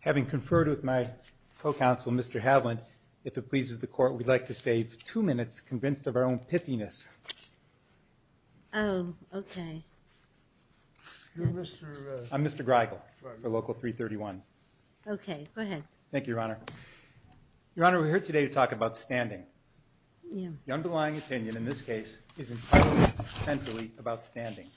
Having conferred with my co-counsel, Mr. Havlant, if it pleases the court, we'd like to save two minutes convinced of our own pithiness. I'm Mr. Greigel for Local 331. Thank you, Your Honor. Your Honor, we're here today to talk about standing. The underlying opinion in this case is entirely centrally about standing.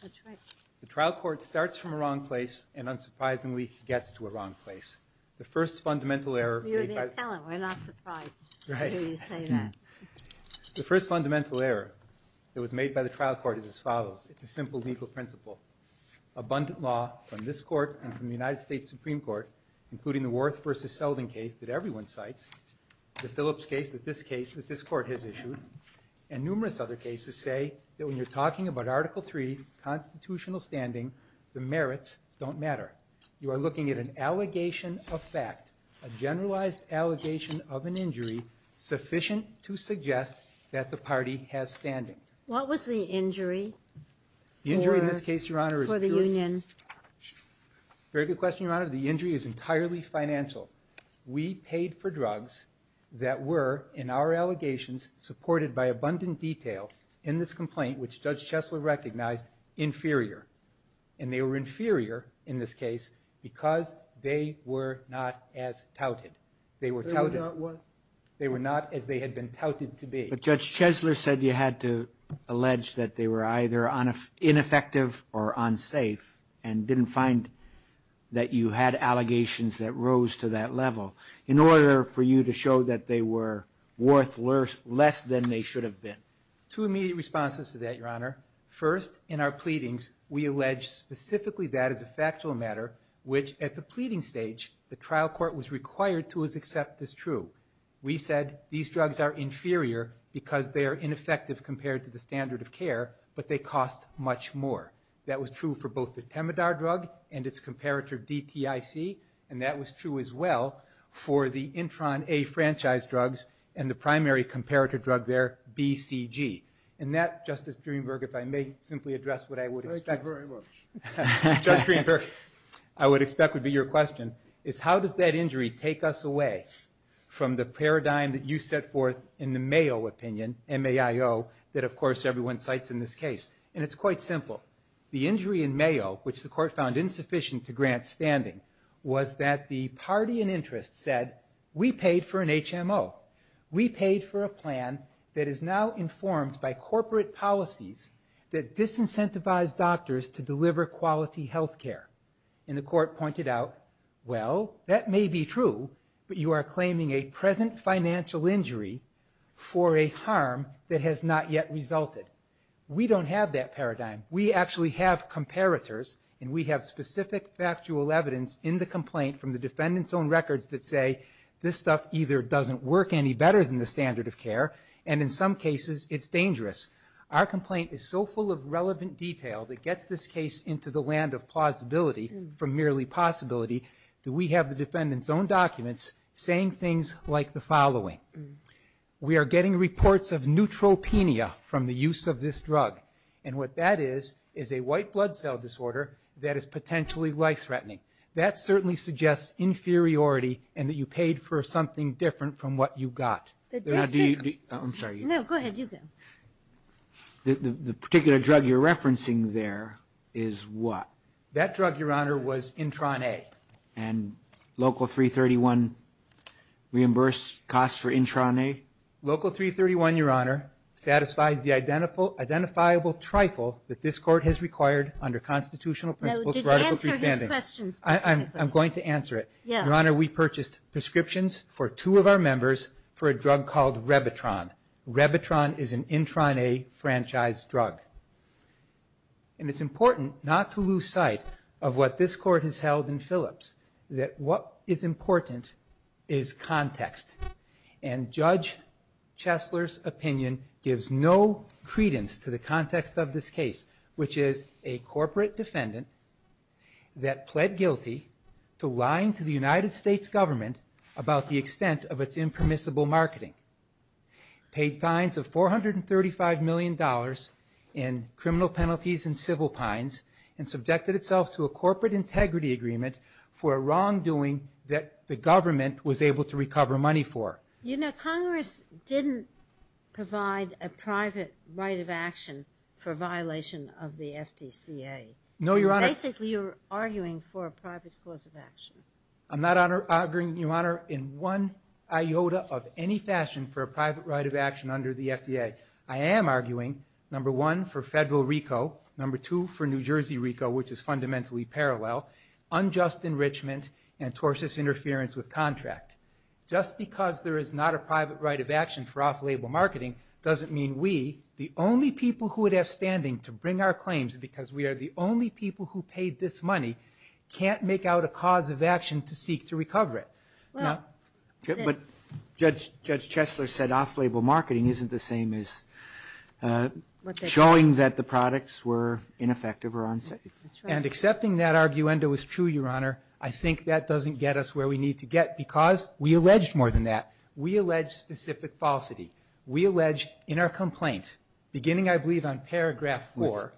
The trial court starts from a wrong place and unsurprisingly gets to a wrong place. The first fundamental error that was made by the trial court is as follows. It's a simple legal principle. Abundant law from this court and from the United States Supreme Court, including the Worth v. Selden case that everyone cites, the Phillips case that this court has issued, and numerous other cases say that when you're talking about Article III, constitutional standing, the merits don't matter. You are looking at an allegation of fact, a generalized allegation of an injury sufficient to suggest that the party has standing. What was the injury for the union? Very good question, Your Honor. The injury is entirely financial. We paid for drugs that were, in our allegations supported by abundant detail in this complaint, which Judge Chesler recognized, inferior. And they were inferior in this case because they were not as touted. They were touted. They were not what? They were not as they had been touted to be. But Judge Chesler said you had to allege that they were either ineffective or unsafe and didn't find that you had allegations that rose to that level in order for you to show that they were worth less than they should have been. Two immediate responses to that, Your Honor. First, in our pleadings, we allege specifically that as a factual matter, which at the pleading stage, the trial court was required to accept as true. We said these drugs are inferior because they are ineffective compared to the standard of care, but they cost much more. That was true for both the Temadar drug and its comparator DTIC, and that was true as well for the Intron A franchise drugs and the primary comparator drug there, BCG. And that, Justice Greenberg, if I may simply address what I would expect. Thank you very much. Judge Greenberg, I would expect would be your question, is how does that injury take us away from the paradigm that you set forth in the Mayo opinion, MAIO, that, of course, everyone cites in this case? And it's quite simple. The injury in MAIO, which the court found insufficient to grant standing, was that the party in interest said, we paid for an HMO. We paid for a plan that is now informed by corporate policies that disincentivize doctors to deliver quality health care. And the court pointed out, well, that may be true, but you are claiming a present financial injury for a harm that has not yet resulted. We don't have that paradigm. We actually have comparators, and we have specific factual evidence in the complaint from the defendant's own records that say, this stuff either doesn't work any better than the standard of care, and in some cases, it's dangerous. Our complaint is so full of relevant detail that gets this case into the land of plausibility from merely possibility that we have the defendant's own documents saying things like the following. We are getting reports of neutropenia from the use of this drug, and what that is is a white blood cell disorder that is potentially life-threatening. That certainly suggests inferiority and that you paid for something different from what you got. But that's true. I'm sorry. No, go ahead. You go. The particular drug you're referencing there is what? That drug, Your Honor, was Intron A. And Local 331 reimbursed costs for Intron A? Local 331, Your Honor, satisfies the identifiable trifle that this court has required under constitutional principles for article 3 standing. I'm going to answer it. Your Honor, we purchased prescriptions for two of our members for a drug called Revitron. Revitron is an Intron A franchise drug. And it's important not to lose sight of what this court has held in Phillips, that what is important is context. And Judge Chesler's opinion gives no credence to the context of this case, which is a corporate defendant that pled guilty to lying to the United States government about the extent of its impermissible marketing. Paid fines of $435 million in criminal penalties and civil pines and subjected itself to a corporate integrity agreement for a wrongdoing that the government was able to recover money for. You know, Congress didn't provide a private right of action for violation of the FDCA. No, Your Honor. Basically, you're arguing for a private cause of action. I'm not arguing, Your Honor, in one iota of any fashion for a private right of action under the FDA. I am arguing, number one, for federal RICO, number two, for New Jersey RICO, which is fundamentally parallel, unjust enrichment, and tortious interference with contract. Just because there is not a private right of action for off-label marketing doesn't mean we, the only people who would have standing to bring our claims because we are the only people who paid this money, can't make out a cause of action to seek to recover it. But Judge Chesler said off-label marketing isn't the same as showing that the products were ineffective or unsafe. And accepting that arguendo is true, Your Honor. I think that doesn't get us where we need to get because we allege more than that. We allege specific falsity. We allege in our complaint, beginning, I believe, on paragraph four,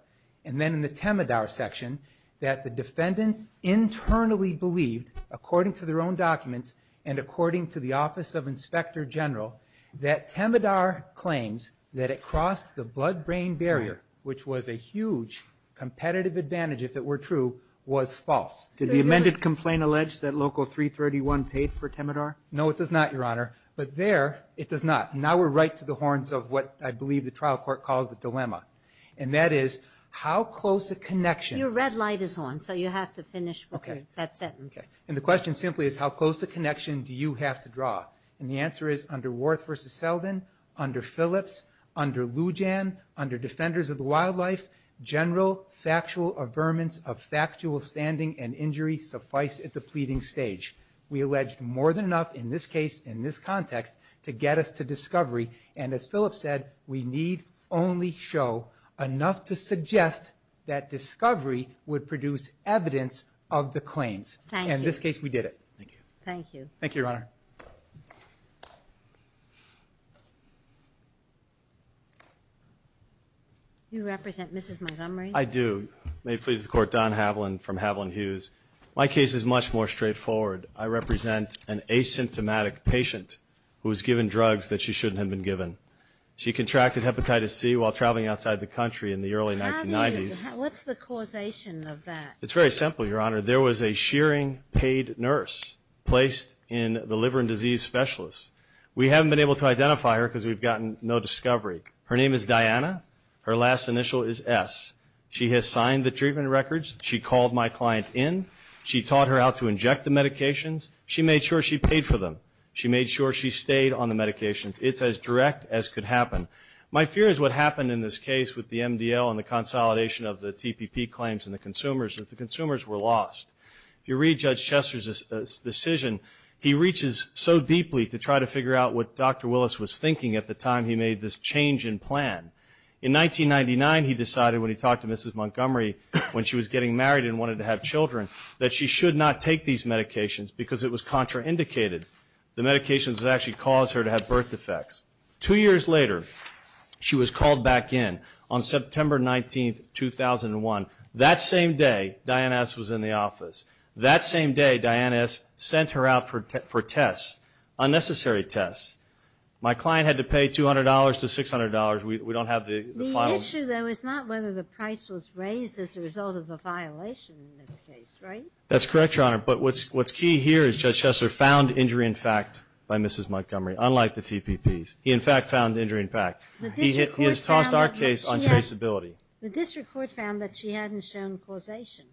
and then in the Temodar section, that the defendants internally believed, according to their own documents, and according to the Office of Inspector General, that Temodar claims that it crossed the blood-brain barrier, which was a huge competitive advantage, if it were true, was false. Did the amended complaint allege that Local 331 paid for Temodar? No, it does not, Your Honor. But there, it does not. Now we're right to the horns of what I believe the trial court calls the dilemma. And that is, how close a connection- Your red light is on, so you have to finish with that sentence. Okay. And the question simply is, how close a connection do you have to draw? And the answer is, under Worth v. Seldin, under Phillips, under Lujan, under Defenders of the Wildlife, general factual averments of factual standing and injury suffice at the pleading stage. We alleged more than enough in this case, in this context, to get us to discovery. And as Phillips said, we need only show enough to suggest that discovery would produce evidence of the claims. Thank you. And in this case, we did it. Thank you. Thank you. Thank you, Your Honor. You represent Mrs. Montgomery? I do. May it please the Court, Don Havlin from Havlin Hughes. My case is much more straightforward. I represent an asymptomatic patient who was given drugs that she shouldn't have been given. She contracted hepatitis C while traveling outside the country in the early 1990s. What's the causation of that? It's very simple, Your Honor. There was a shearing paid nurse placed in the liver and disease specialist. We haven't been able to identify her because we've gotten no discovery. Her name is Diana. Her last initial is S. She has signed the treatment records. She called my client in. She taught her how to inject the medications. She made sure she paid for them. She made sure she stayed on the medications. It's as direct as could happen. My fear is what happened in this case with the MDL and the consolidation of the TPP claims and the consumers is that the consumers were lost. If you read Judge Chester's decision, he reaches so deeply to try to figure out what Dr. Willis was thinking at the time he made this change in plan. In 1999, he decided when he talked to Mrs. Montgomery when she was getting married and wanted to have children that she should not take these medications because it was contraindicated. The medications would actually cause her to have birth defects. Two years later, she was called back in on September 19, 2001. That same day, Diana S. was in the office. That same day, Diana S. sent her out for tests, unnecessary tests. My client had to pay $200 to $600. We don't have the final. The issue, though, is not whether the price was raised as a result of a violation in this case, right? That's correct, Your Honor, but what's key here is Judge Chester found injury in fact by Mrs. Montgomery, unlike the TPPs. He, in fact, found injury in fact. He has tossed our case on traceability. The district court found that she hadn't shown causation.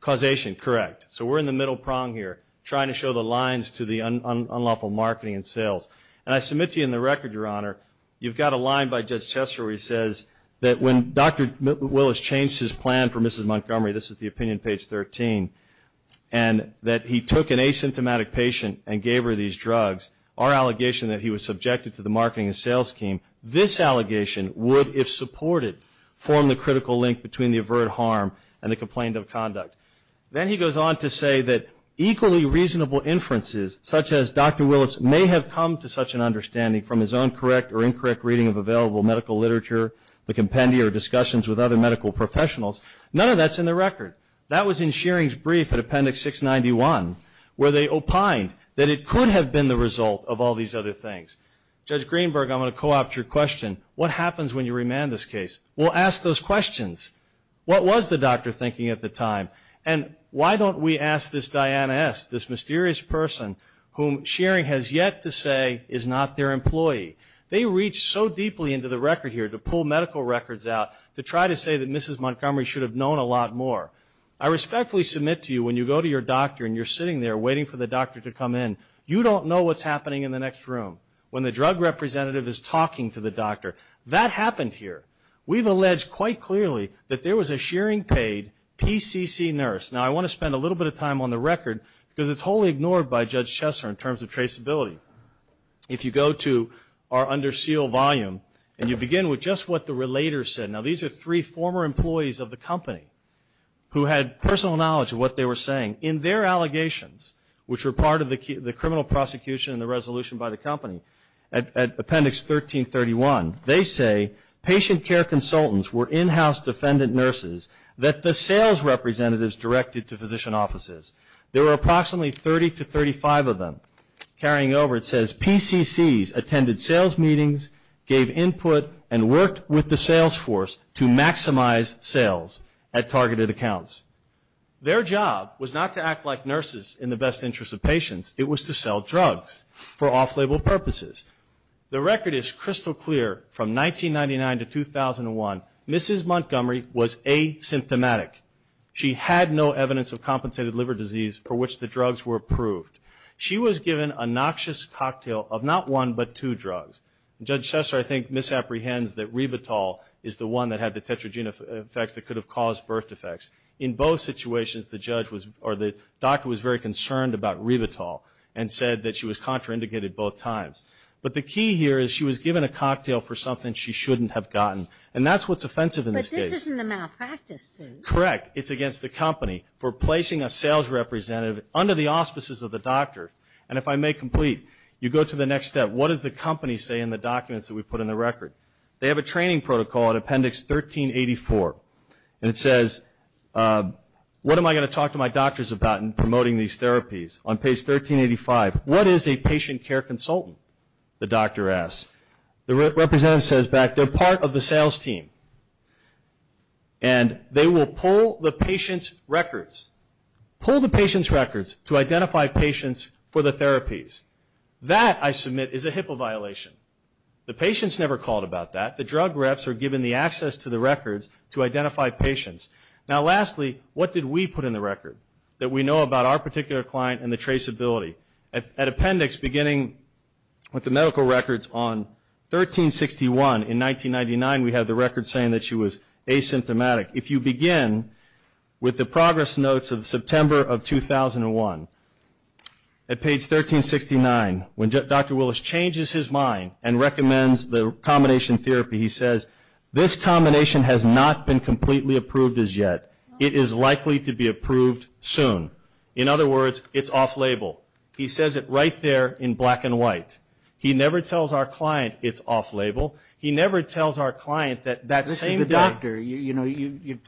Causation, correct. So we're in the middle prong here, trying to show the lines to the unlawful marketing and sales. And I submit to you in the record, Your Honor, you've got a line by Judge Chester where he says that when Dr. Willis changed his plan for Mrs. Montgomery, this is the opinion page 13, and that he took an asymptomatic patient and gave her these drugs, our allegation that he was subjected to the marketing and sales scheme, this allegation would, if supported, form the critical link between the overt harm and the complaint of conduct. Then he goes on to say that equally reasonable inferences, such as Dr. Willis may have come to such an understanding from his own correct or incorrect reading of available medical literature, the compendia or discussions with other medical professionals, none of that's in the record. That was in Shearing's brief at Appendix 691, where they opined that it could have been the result of all these other things. Judge Greenberg, I'm going to co-opt your question. What happens when you remand this case? We'll ask those questions. What was the doctor thinking at the time? And why don't we ask this Diana S., this mysterious person whom Shearing has yet to say is not their employee? They reached so deeply into the record here to pull medical records out to try to say that Mrs. Montgomery should have known a lot more. I respectfully submit to you when you go to your doctor and you're sitting there waiting for the doctor to come in, you don't know what's happening in the next room. When the drug representative is talking to the doctor, that happened here. We've alleged quite clearly that there was a Shearing-paid PCC nurse. Now, I want to spend a little bit of time on the record because it's wholly ignored by Judge Chesser in terms of traceability. If you go to our under seal volume and you begin with just what the relator said. Now, these are three former employees of the company who had personal knowledge of what they were saying. In their allegations, which were part of the criminal prosecution and the resolution by the company at Appendix 1331, they say patient care consultants were in-house defendant nurses that the sales representatives directed to physician offices. There were approximately 30 to 35 of them. Carrying over, it says PCCs attended sales meetings, gave input, and worked with the sales force to maximize sales at targeted accounts. Their job was not to act like nurses in the best interest of patients. It was to sell drugs for off-label purposes. The record is crystal clear from 1999 to 2001. Mrs. Montgomery was asymptomatic. She had no evidence of compensated liver disease for which the drugs were approved. She was given a noxious cocktail of not one, but two drugs. Judge Chesser, I think, misapprehends that Ribitol is the one that had the Tetragena effects that could have caused birth defects. In both situations, the doctor was very concerned about Ribitol and said that she was contraindicated both times. But the key here is she was given a cocktail for something she shouldn't have gotten. And that's what's offensive in this case. But this isn't a malpractice suit. Correct. It's against the company for placing a sales representative under the auspices of the doctor. And if I may complete, you go to the next step. What did the company say in the documents that we put in the record? They have a training protocol at Appendix 1384. And it says, what am I going to talk to my doctors about in promoting these therapies? On page 1385, what is a patient care consultant, the doctor asks. The representative says back, they're part of the sales team. And they will pull the patient's records. Pull the patient's records to identify patients for the therapies. That, I submit, is a HIPAA violation. The patient's never called about that. The drug reps are given the access to the records to identify patients. Now, lastly, what did we put in the record that we know about our particular client and the traceability? At Appendix, beginning with the medical records on 1361, in 1999, we have the record saying that she was asymptomatic. If you begin with the progress notes of September of 2001, at page 1369, when Dr. Willis changes his mind and recommends the combination therapy, he says, this combination has not been completely approved as yet. It is likely to be approved soon. In other words, it's off-label. He says it right there in black and white. He never tells our client it's off-label. He never tells our client that that same doctor... The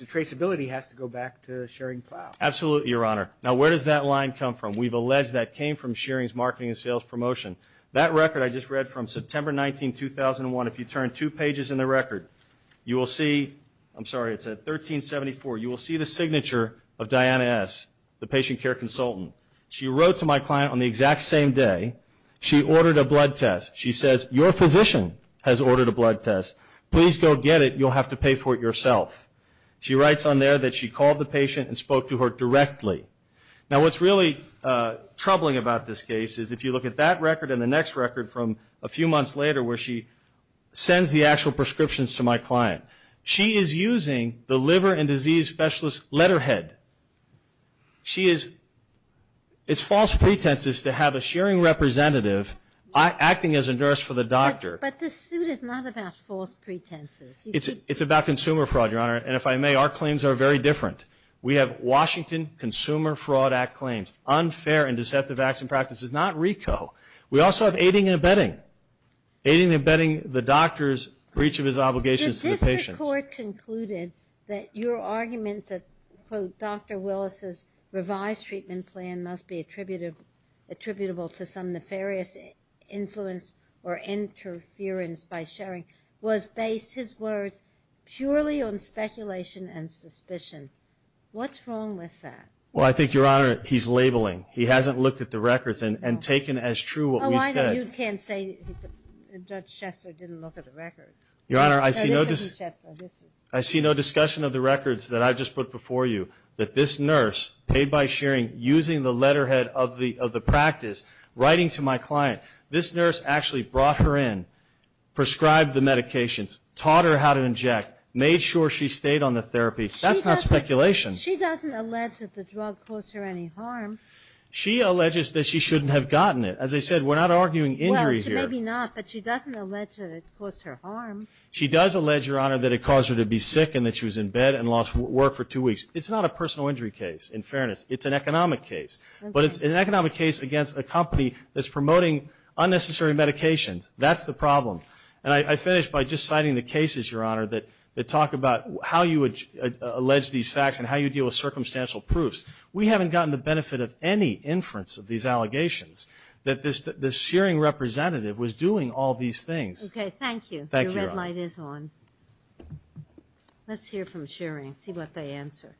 traceability has to go back to Shearing Plow. Absolutely, Your Honor. Now, where does that line come from? We've alleged that came from Shearing's marketing and sales promotion. That record I just read from September 19, 2001. If you turn two pages in the record, you will see... I'm sorry, it's at 1374. You will see the signature of Diana S., the patient care consultant. She wrote to my client on the exact same day. She ordered a blood test. She says, your physician has ordered a blood test. Please go get it. You'll have to pay for it yourself. She writes on there that she called the patient and spoke to her directly. Now, what's really troubling about this case is, if you look at that record and the next record from a few months later, where she sends the actual prescriptions to my client, she is using the liver and disease specialist's letterhead. She is... It's false pretenses to have a Shearing representative acting as a nurse for the doctor. But this suit is not about false pretenses. It's about consumer fraud, Your Honor. And if I may, our claims are very different. We have Washington Consumer Fraud Act claims. Unfair and deceptive acts and practices. Not RICO. We also have aiding and abetting. Aiding and abetting the doctor's breach of his obligations to the patient. The district court concluded that your argument that, quote, Dr. Willis's revised treatment plan must be attributable to some nefarious influence or interference by Shearing, was based, his words, purely on speculation and suspicion. What's wrong with that? Well, I think, Your Honor, he's labeling. He hasn't looked at the records and taken as true what we said. Oh, I know. You can't say that Judge Schessler didn't look at the records. Your Honor, I see no discussion... I see no discussion of the records that I just put before you, that this nurse, paid by Shearing, using the letterhead of the practice, writing to my client. This nurse actually brought her in, prescribed the medications, taught her how to inject, made sure she stayed on the therapy. That's not speculation. She doesn't allege that the drug caused her any harm. She alleges that she shouldn't have gotten it. As I said, we're not arguing injury here. Well, maybe not, but she doesn't allege that it caused her harm. She does allege, Your Honor, that it caused her to be sick and that she was in bed and lost work for two weeks. It's not a personal injury case, in fairness. It's an economic case. But it's an economic case against a company that's promoting unnecessary medications. That's the problem. And I finish by just citing the cases, Your Honor, that talk about how you would allege these facts and how you deal with circumstantial proofs. We haven't gotten the benefit of any inference of these allegations, that this Shearing representative was doing all these things. Okay, thank you. Thank you, Your Honor. Your red light is on. Let's hear from Shearing, see what they answer.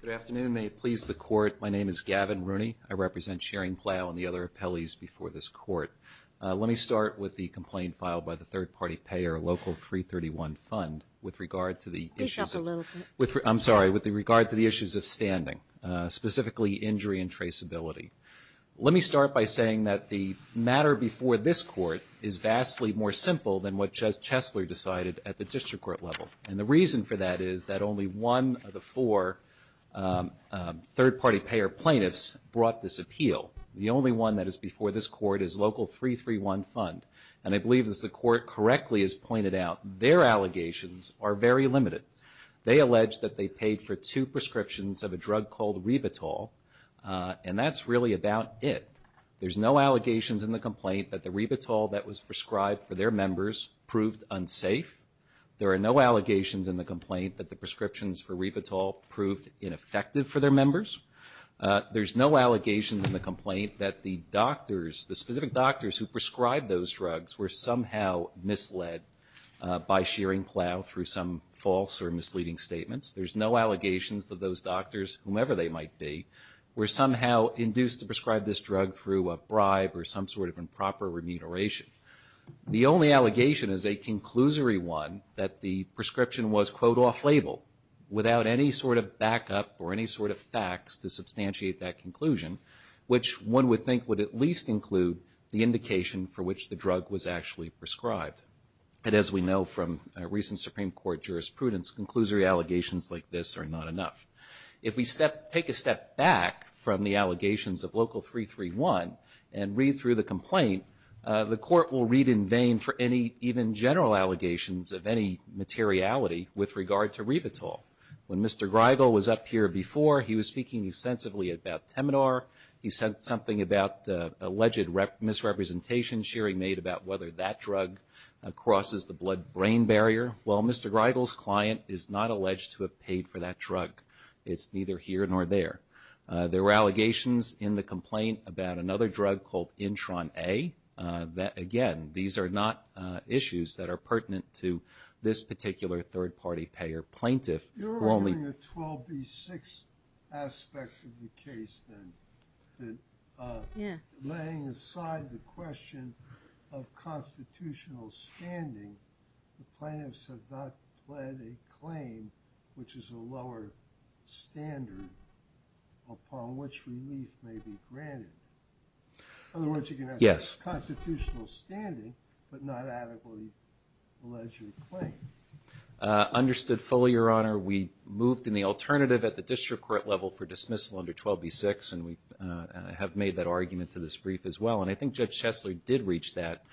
Good afternoon. May it please the Court, my name is Gavin Rooney. I represent Shearing Plow and the other appellees before this Court. Let me start with the complaint filed by the third-party payer, Local 331 Fund, with regard to the issues of standing, specifically injury and traceability. Let me start by saying that the matter before this Court is vastly more simple than what Chesler decided at the District Court level. And the reason for that is that only one of the four third-party payer plaintiffs brought this appeal. The only one that is before this Court is Local 331 Fund. And I believe, as the Court correctly has pointed out, their allegations are very limited. They allege that they paid for two prescriptions of a drug called Ribitol, and that's really about it. There's no allegations in the complaint that the Ribitol that was prescribed for their members proved unsafe. There are no allegations in the complaint that the prescriptions for Ribitol proved ineffective for their members. There's no allegations in the complaint that the doctors, the specific doctors who prescribed those drugs were somehow misled by Shearing Plow through some false or misleading statements. There's no allegations that those doctors, whomever they might be, were somehow induced to prescribe this drug through a bribe or some sort of improper remuneration. The only allegation is a conclusory one that the prescription was, quote, off-label, without any sort of backup or any sort of facts to substantiate that conclusion, which one would think would at least include the indication for which the drug was actually prescribed. And as we know from recent Supreme Court jurisprudence, conclusory allegations like this are not enough. If we take a step back from the allegations of Local 331 and read through the complaint, the Court will read in vain for any even general allegations of any materiality with regard to Ribitol. When Mr. Greigel was up here before, he was speaking extensively about Temidor. He said something about alleged misrepresentation Shearing made about whether that drug crosses the blood-brain barrier. Well, Mr. Greigel's client is not alleged to have paid for that drug. It's neither here nor there. There were allegations in the complaint about another drug called Intron A. That, again, these are not issues that are pertinent to this particular third-party payer plaintiff. You're arguing a 12B6 aspect of the case, then, that laying aside the question of constitutional standing, the plaintiffs have not pled a claim which is a lower standard upon which relief may be granted. In other words, you can have constitutional standing, but not adequately alleged claim. Understood fully, Your Honor. We moved in the alternative at the district court level for dismissal under 12B6, and we have made that argument to this brief as well. And I think Judge Chesler did reach that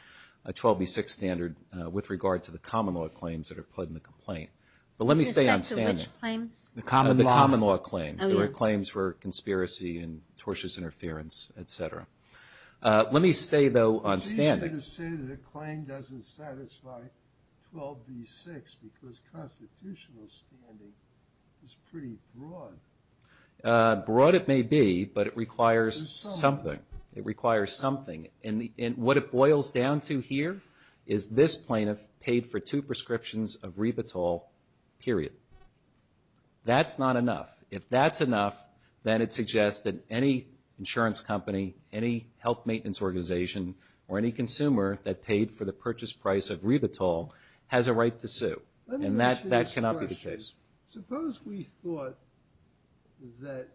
12B6 standard with regard to the common law claims that are pled in the complaint. But let me stay on standard. Is that the which claims? The common law. The common law claims. There were claims for conspiracy and tortious interference, et cetera. Let me stay, though, on standard. But you're going to say that a claim doesn't satisfy 12B6 because constitutional standing is pretty broad. Broad it may be, but it requires something. It requires something. And what it boils down to here is this plaintiff paid for two prescriptions of Revitol, period. That's not enough. If that's enough, then it suggests that any insurance company, any health maintenance organization, or any consumer that paid for the purchase price of Revitol has a right to sue. And that cannot be the case. Suppose we thought that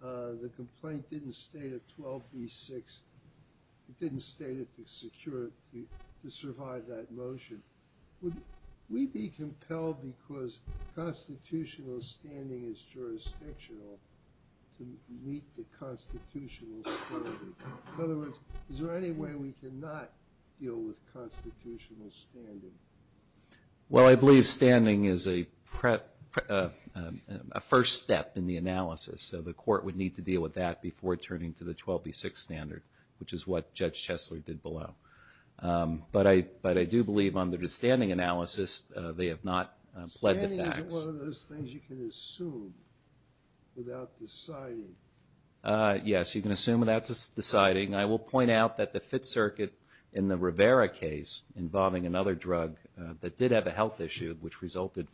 the complaint didn't state a 12B6. It didn't state it to secure, to survive that motion. Would we be compelled because constitutional standing is jurisdictional to meet the constitutional standard? In other words, is there any way we can not deal with constitutional standing? Well, I believe standing is a first step in the analysis. So the court would need to deal with that before turning to the 12B6 standard, which is what Judge Chesler did below. But I do believe under the standing analysis, they have not pled the facts. Standing is one of those things you can assume without deciding. Yes, you can assume without deciding. I will point out that the Fifth Circuit in the Rivera case, involving another drug that did have a health issue which resulted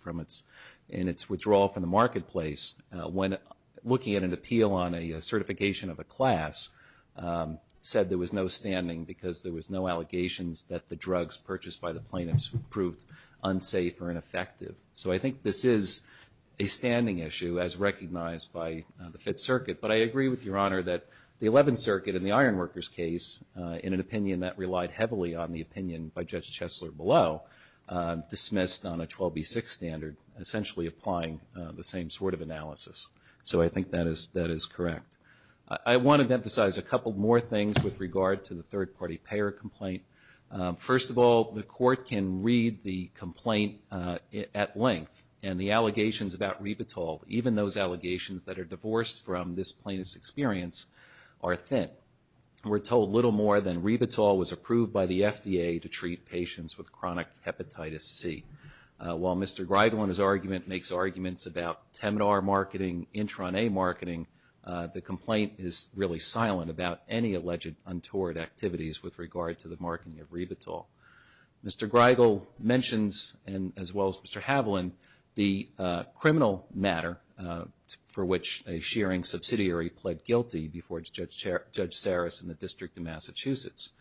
in its withdrawal from the marketplace, when looking at an appeal on a certification of a class, said there was no standing because there was no allegations that the drugs purchased by the plaintiffs proved unsafe or ineffective. So I think this is a standing issue as recognized by the Fifth Circuit. But I agree with Your Honor that the Eleventh Circuit in the Iron Workers case, in an opinion that relied heavily on the opinion by Judge Chesler below, dismissed on a 12B6 standard, essentially applying the same sort of analysis. So I think that is correct. I wanted to emphasize a couple more things with regard to the third-party payer complaint. First of all, the court can read the complaint at length. And the allegations about Revitol, even those allegations that are divorced from this plaintiff's experience, are thin. We're told little more than Revitol was approved by the FDA to treat patients with chronic hepatitis C. While Mr. Greigel in his argument makes arguments about Temdar marketing, Intron A marketing, the complaint is really silent about any alleged untoward activities with regard to the marketing of Revitol. Mr. Greigel mentions, as well as Mr. Haviland, the criminal matter for which a shearing subsidiary pled guilty before Judge Saris in the District of Massachusetts.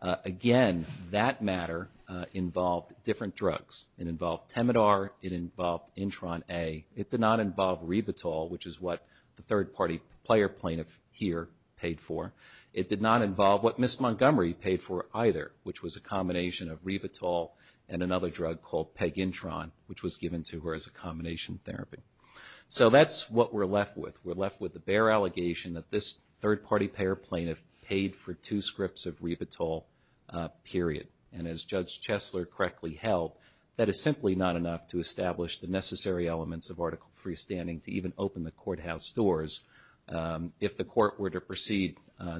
Again, that matter involved different drugs. It involved Temdar, it involved Intron A. It did not involve Revitol, which is what the third-party player plaintiff here paid for. It did not involve what Ms. Montgomery paid for either, which was a combination of Revitol and another drug called Pegintron, which was given to her as a combination therapy. So that's what we're left with. We're left with the bare allegation that this third-party payer plaintiff paid for two scripts of Revitol, period. And as Judge Chesler correctly held, that is simply not enough to establish the necessary elements of Article III standing to even open the courthouse doors. If the court were to proceed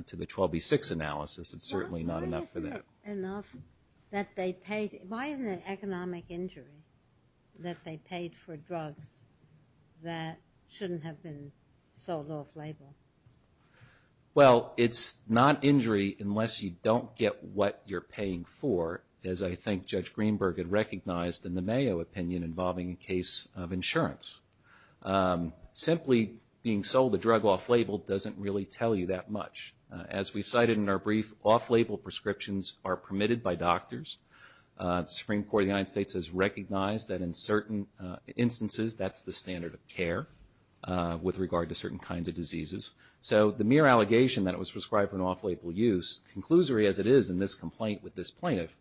to the 12B6 analysis, it's certainly not enough for that. Why isn't it economic injury that they paid for drugs that shouldn't have been sold off-label? Well, it's not injury unless you don't get what you're paying for, as I think Judge Greenberg had recognized in the Mayo opinion involving a case of insurance. Simply being sold a drug off-label doesn't really tell you that much. As we've cited in our brief, off-label prescriptions are permitted by doctors. Supreme Court of the United States has recognized that in certain instances, that's the standard of care with regard to certain kinds of diseases. So the mere allegation that it was prescribed for an off-label use, conclusory as it is in this complaint with this plaintiff,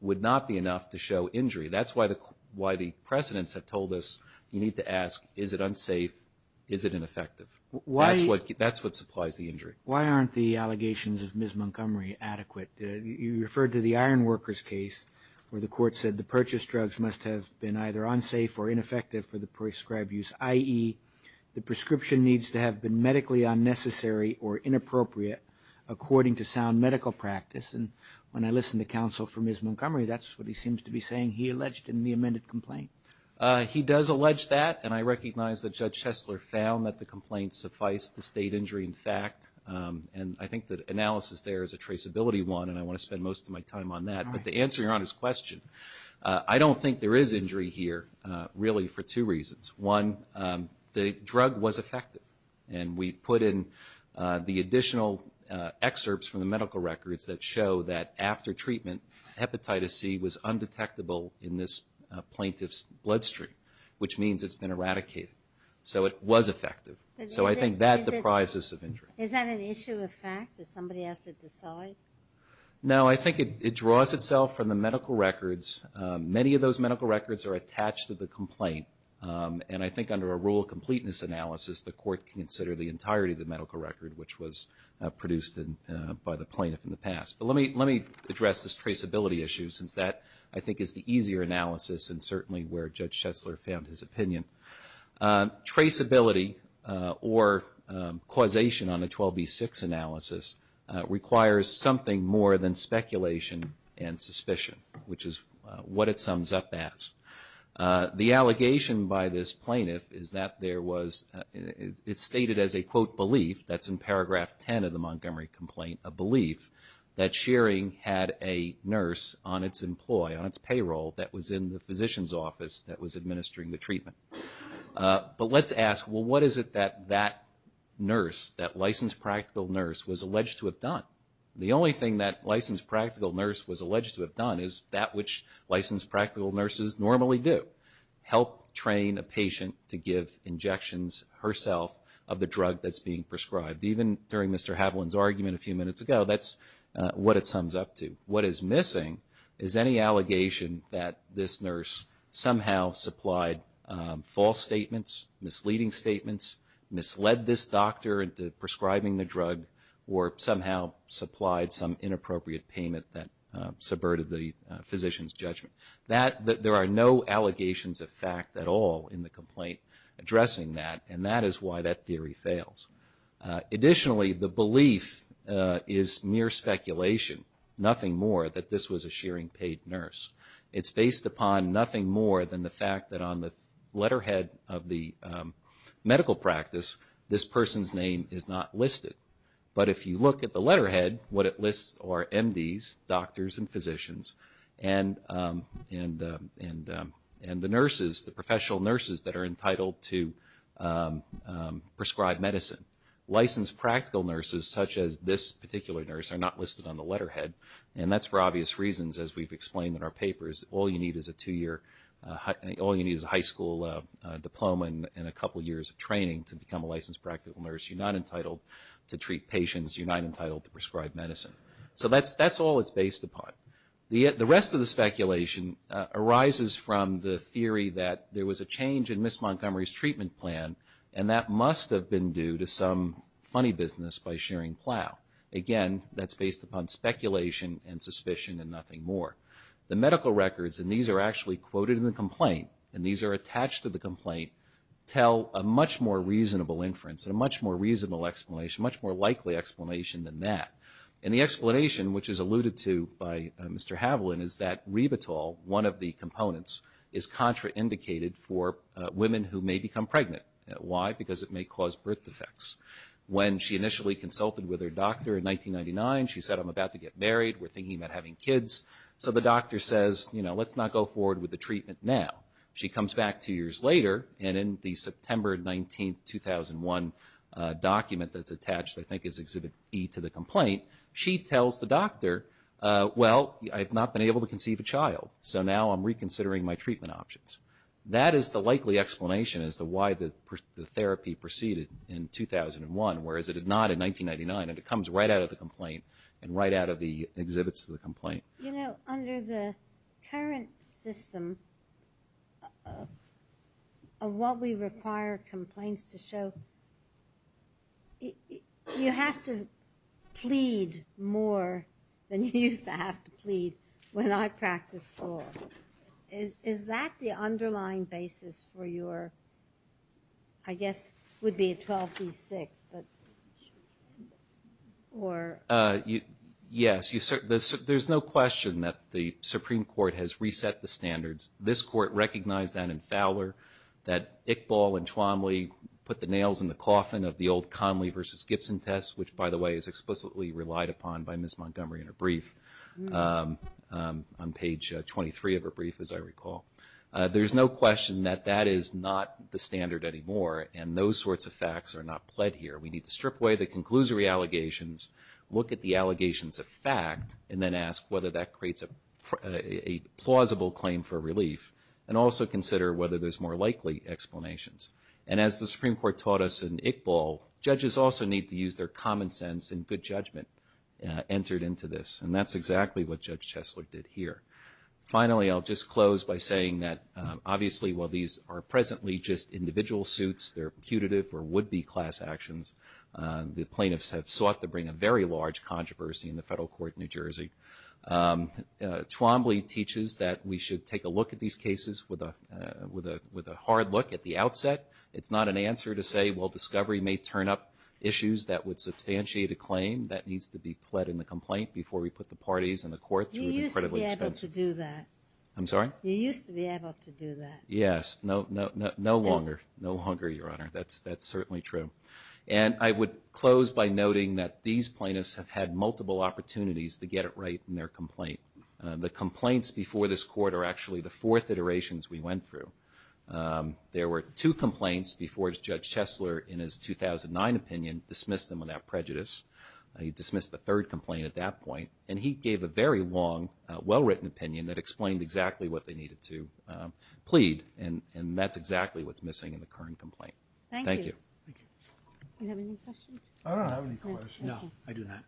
would not be enough to show injury. That's why the precedents have told us you need to ask, is it unsafe? Is it ineffective? That's what supplies the injury. Why aren't the allegations of Ms. Montgomery adequate? You referred to the iron workers case where the court said the purchased drugs must have been either unsafe or ineffective for the prescribed use, i.e. the prescription needs to have been medically unnecessary or inappropriate according to sound medical practice. And when I listen to counsel for Ms. Montgomery, that's what he seems to be saying he alleged in the amended complaint. He does allege that. And I recognize that Judge Chesler found that the complaint sufficed the state injury. In fact, and I think the analysis there is a traceability one, and I want to spend most of my time on that. But the answer to your honest question, I don't think there is injury here really for two reasons. One, the drug was effective. And we put in the additional excerpts from the medical records that show that after treatment, hepatitis C was undetectable in this plaintiff's bloodstream, which means it's been eradicated. So it was effective. So I think that deprives us of injury. Is that an issue of fact that somebody has to decide? No, I think it draws itself from the medical records. Many of those medical records are attached to the complaint. And I think under a rule of completeness analysis, the court can consider the entirety of the medical record which was produced by the plaintiff in the past. But let me address this traceability issue since that I think is the easier analysis and certainly where Judge Chesler found his opinion. Traceability or causation on a 12B6 analysis requires something more than speculation and suspicion, which is what it sums up as. The allegation by this plaintiff is that there was, it's stated as a quote belief, that's in paragraph 10 of the Montgomery complaint, a belief that Shearing had a nurse on its employ, on its payroll that was in the physician's office that was administering the treatment. But let's ask, well, what is it that that nurse, that licensed practical nurse was alleged to have done? The only thing that licensed practical nurse was alleged to have done is that which licensed practical nurses normally do, help train a patient to give injections herself of the drug that's being prescribed. Even during Mr. Haviland's argument a few minutes ago, that's what it sums up to. What is missing is any allegation that this nurse somehow supplied false statements, misleading statements, misled this doctor into prescribing the drug, or somehow supplied some inappropriate payment that subverted the physician's judgment. There are no allegations of fact at all in the complaint addressing that, and that is why that theory fails. Additionally, the belief is mere speculation, nothing more, that this was a shearing paid nurse. It's based upon nothing more than the fact that on the letterhead of the medical practice, this person's name is not listed. But if you look at the letterhead, what it lists are MDs, doctors and physicians, and the nurses, the professional nurses that are entitled to prescribe medicine. Licensed practical nurses such as this particular nurse are not listed on the letterhead, and that's for obvious reasons, as we've explained in our papers. All you need is a two-year, all you need is a high school diploma and a couple years of training to become a licensed practical nurse. You're not entitled to treat patients. You're not entitled to prescribe medicine. So that's all it's based upon. The rest of the speculation arises from the theory that there was a change in Ms. Montgomery's treatment plan, and that must have been due to some funny business by shearing plow. Again, that's based upon speculation and suspicion and nothing more. The medical records, and these are actually quoted in the complaint, and these are attached to the complaint, tell a much more reasonable inference and a much more reasonable explanation, much more likely explanation than that. And the explanation, which is alluded to by Mr. Haviland, is that ribatol, one of the components, is contraindicated for women who may become pregnant. Why? Because it may cause birth defects. When she initially consulted with her doctor in 1999, she said, I'm about to get married. We're thinking about having kids. So the doctor says, you know, let's not go forward with the treatment now. She comes back two years later, and in the September 19, 2001 document that's attached, I think, is Exhibit E to the complaint, she tells the doctor, well, I've not been able to conceive a child, so now I'm reconsidering my treatment options. That is the likely explanation as to why the therapy proceeded in 2001, whereas it did not in 1999, and it comes right out of the complaint and right out of the exhibits to the complaint. You know, under the current system of what we require complaints to show, you have to plead more than you used to have to plead when I practiced law. Is that the underlying basis for your, I guess it would be a 12-B-6, but, or? Yes. There's no question that the Supreme Court has reset the standards. This Court recognized that in Fowler, that Iqbal and Chwamly put the nails in the coffin of the old Conley versus Gibson test, which, by the way, is explicitly relied upon by Ms. Montgomery in her brief, on page 23 of her brief, as I recall. There's no question that that is not the standard anymore, and those sorts of facts are not pled here. We need to strip away the conclusory allegations, look at the allegations of fact, and then ask whether that creates a plausible claim for relief, and also consider whether there's more likely explanations. And as the Supreme Court taught us in Iqbal, judges also need to use their common sense and good judgment entered into this, and that's exactly what Judge Chesler did here. Finally, I'll just close by saying that, obviously, while these are presently just individual suits, they're putative or would-be class actions. The plaintiffs have sought to bring a very large controversy in the federal court in New Jersey. Chwamly teaches that we should take a look at these cases with a hard look at the outset. It's not an answer to say, well, discovery may turn up issues that would substantiate a claim that needs to be pled in the complaint before we put the parties in the court through an incredibly expensive. You used to be able to do that. I'm sorry? You used to be able to do that. Yes, no longer, no longer, Your Honor. That's certainly true. And I would close by noting that these plaintiffs have had multiple opportunities to get it right in their complaint. The complaints before this court are actually the fourth iterations we went through. There were two complaints before Judge Chesler, in his 2009 opinion, dismissed them without prejudice. He dismissed the third complaint at that point. And he gave a very long, well-written opinion that explained exactly what they needed to plead. And that's exactly what's missing in the current complaint. Thank you. Thank you. Do you have any questions? I don't have any questions. No, I do not.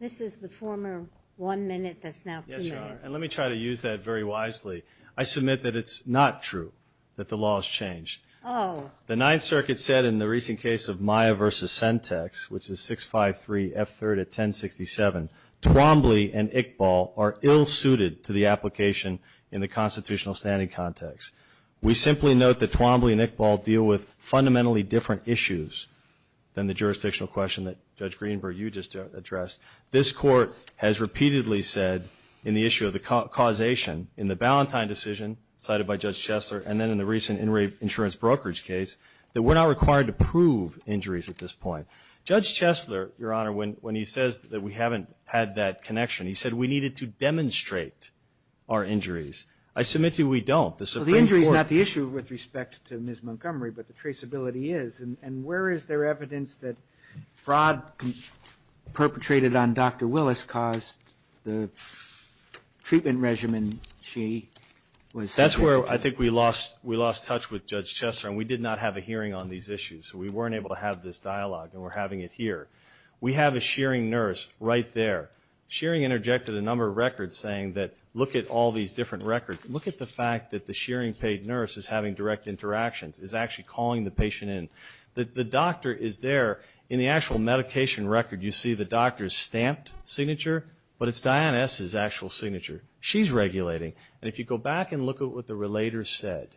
This is the former one minute that's now two minutes. Yes, Your Honor, and let me try to use that very wisely. I submit that it's not true that the law has changed. Oh. The Ninth Circuit said in the recent case of Maya v. Sentex, which is 653 F3rd at 1067, Twombly and Iqbal are ill-suited to the application in the constitutional standing context. We simply note that Twombly and Iqbal deal with fundamentally different issues than the jurisdictional question that Judge Greenberg, you just addressed. This court has repeatedly said, in the issue of the causation, in the Ballantyne decision cited by Judge Chesler, and then in the recent in-rape insurance brokerage case, that we're not required to prove injuries at this point. Judge Chesler, Your Honor, when he says that we haven't had that connection, he said we needed to demonstrate our injuries. I submit to you we don't. So the injury is not the issue with respect to Ms. Montgomery, but the traceability is. And where is there evidence that fraud perpetrated on Dr. Willis caused the treatment regimen she was... That's where I think we lost touch with Judge Chesler. And we did not have a hearing on these issues. We weren't able to have this dialogue and we're having it here. We have a shearing nurse right there. Shearing interjected a number of records saying that look at all these different records. Look at the fact that the shearing paid nurse is having direct interactions, is actually calling the patient in. The doctor is there. In the actual medication record, you see the doctor's stamped signature, but it's Diane S.'s actual signature. She's regulating. And if you go back and look at what the relator said,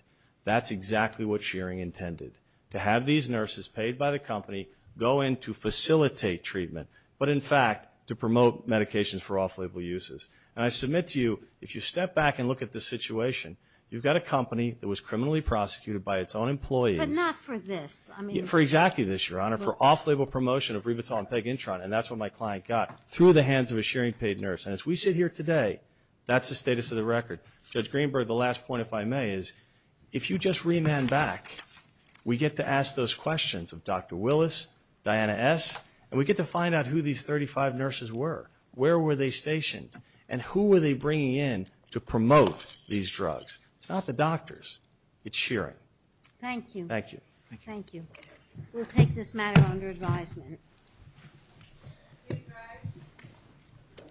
that's exactly what shearing intended. To have these nurses paid by the company go in to facilitate treatment, but in fact to promote medications for off-label uses. And I submit to you, if you step back and look at the situation, you've got a company that was criminally prosecuted by its own employees... But not for this. For exactly this, Your Honor. For off-label promotion of rivitol and pegintron. And that's what my client got through the hands of a shearing paid nurse. And as we sit here today, that's the status of the record. Judge Greenberg, the last point, if I may, is if you just remand back, we get to ask those questions of Dr. Willis, Diana S., and we get to find out who these 35 nurses were. Where were they stationed? And who were they bringing in to promote these drugs? It's not the doctors. It's shearing. Thank you. Thank you. Thank you. We'll take this matter under advisement.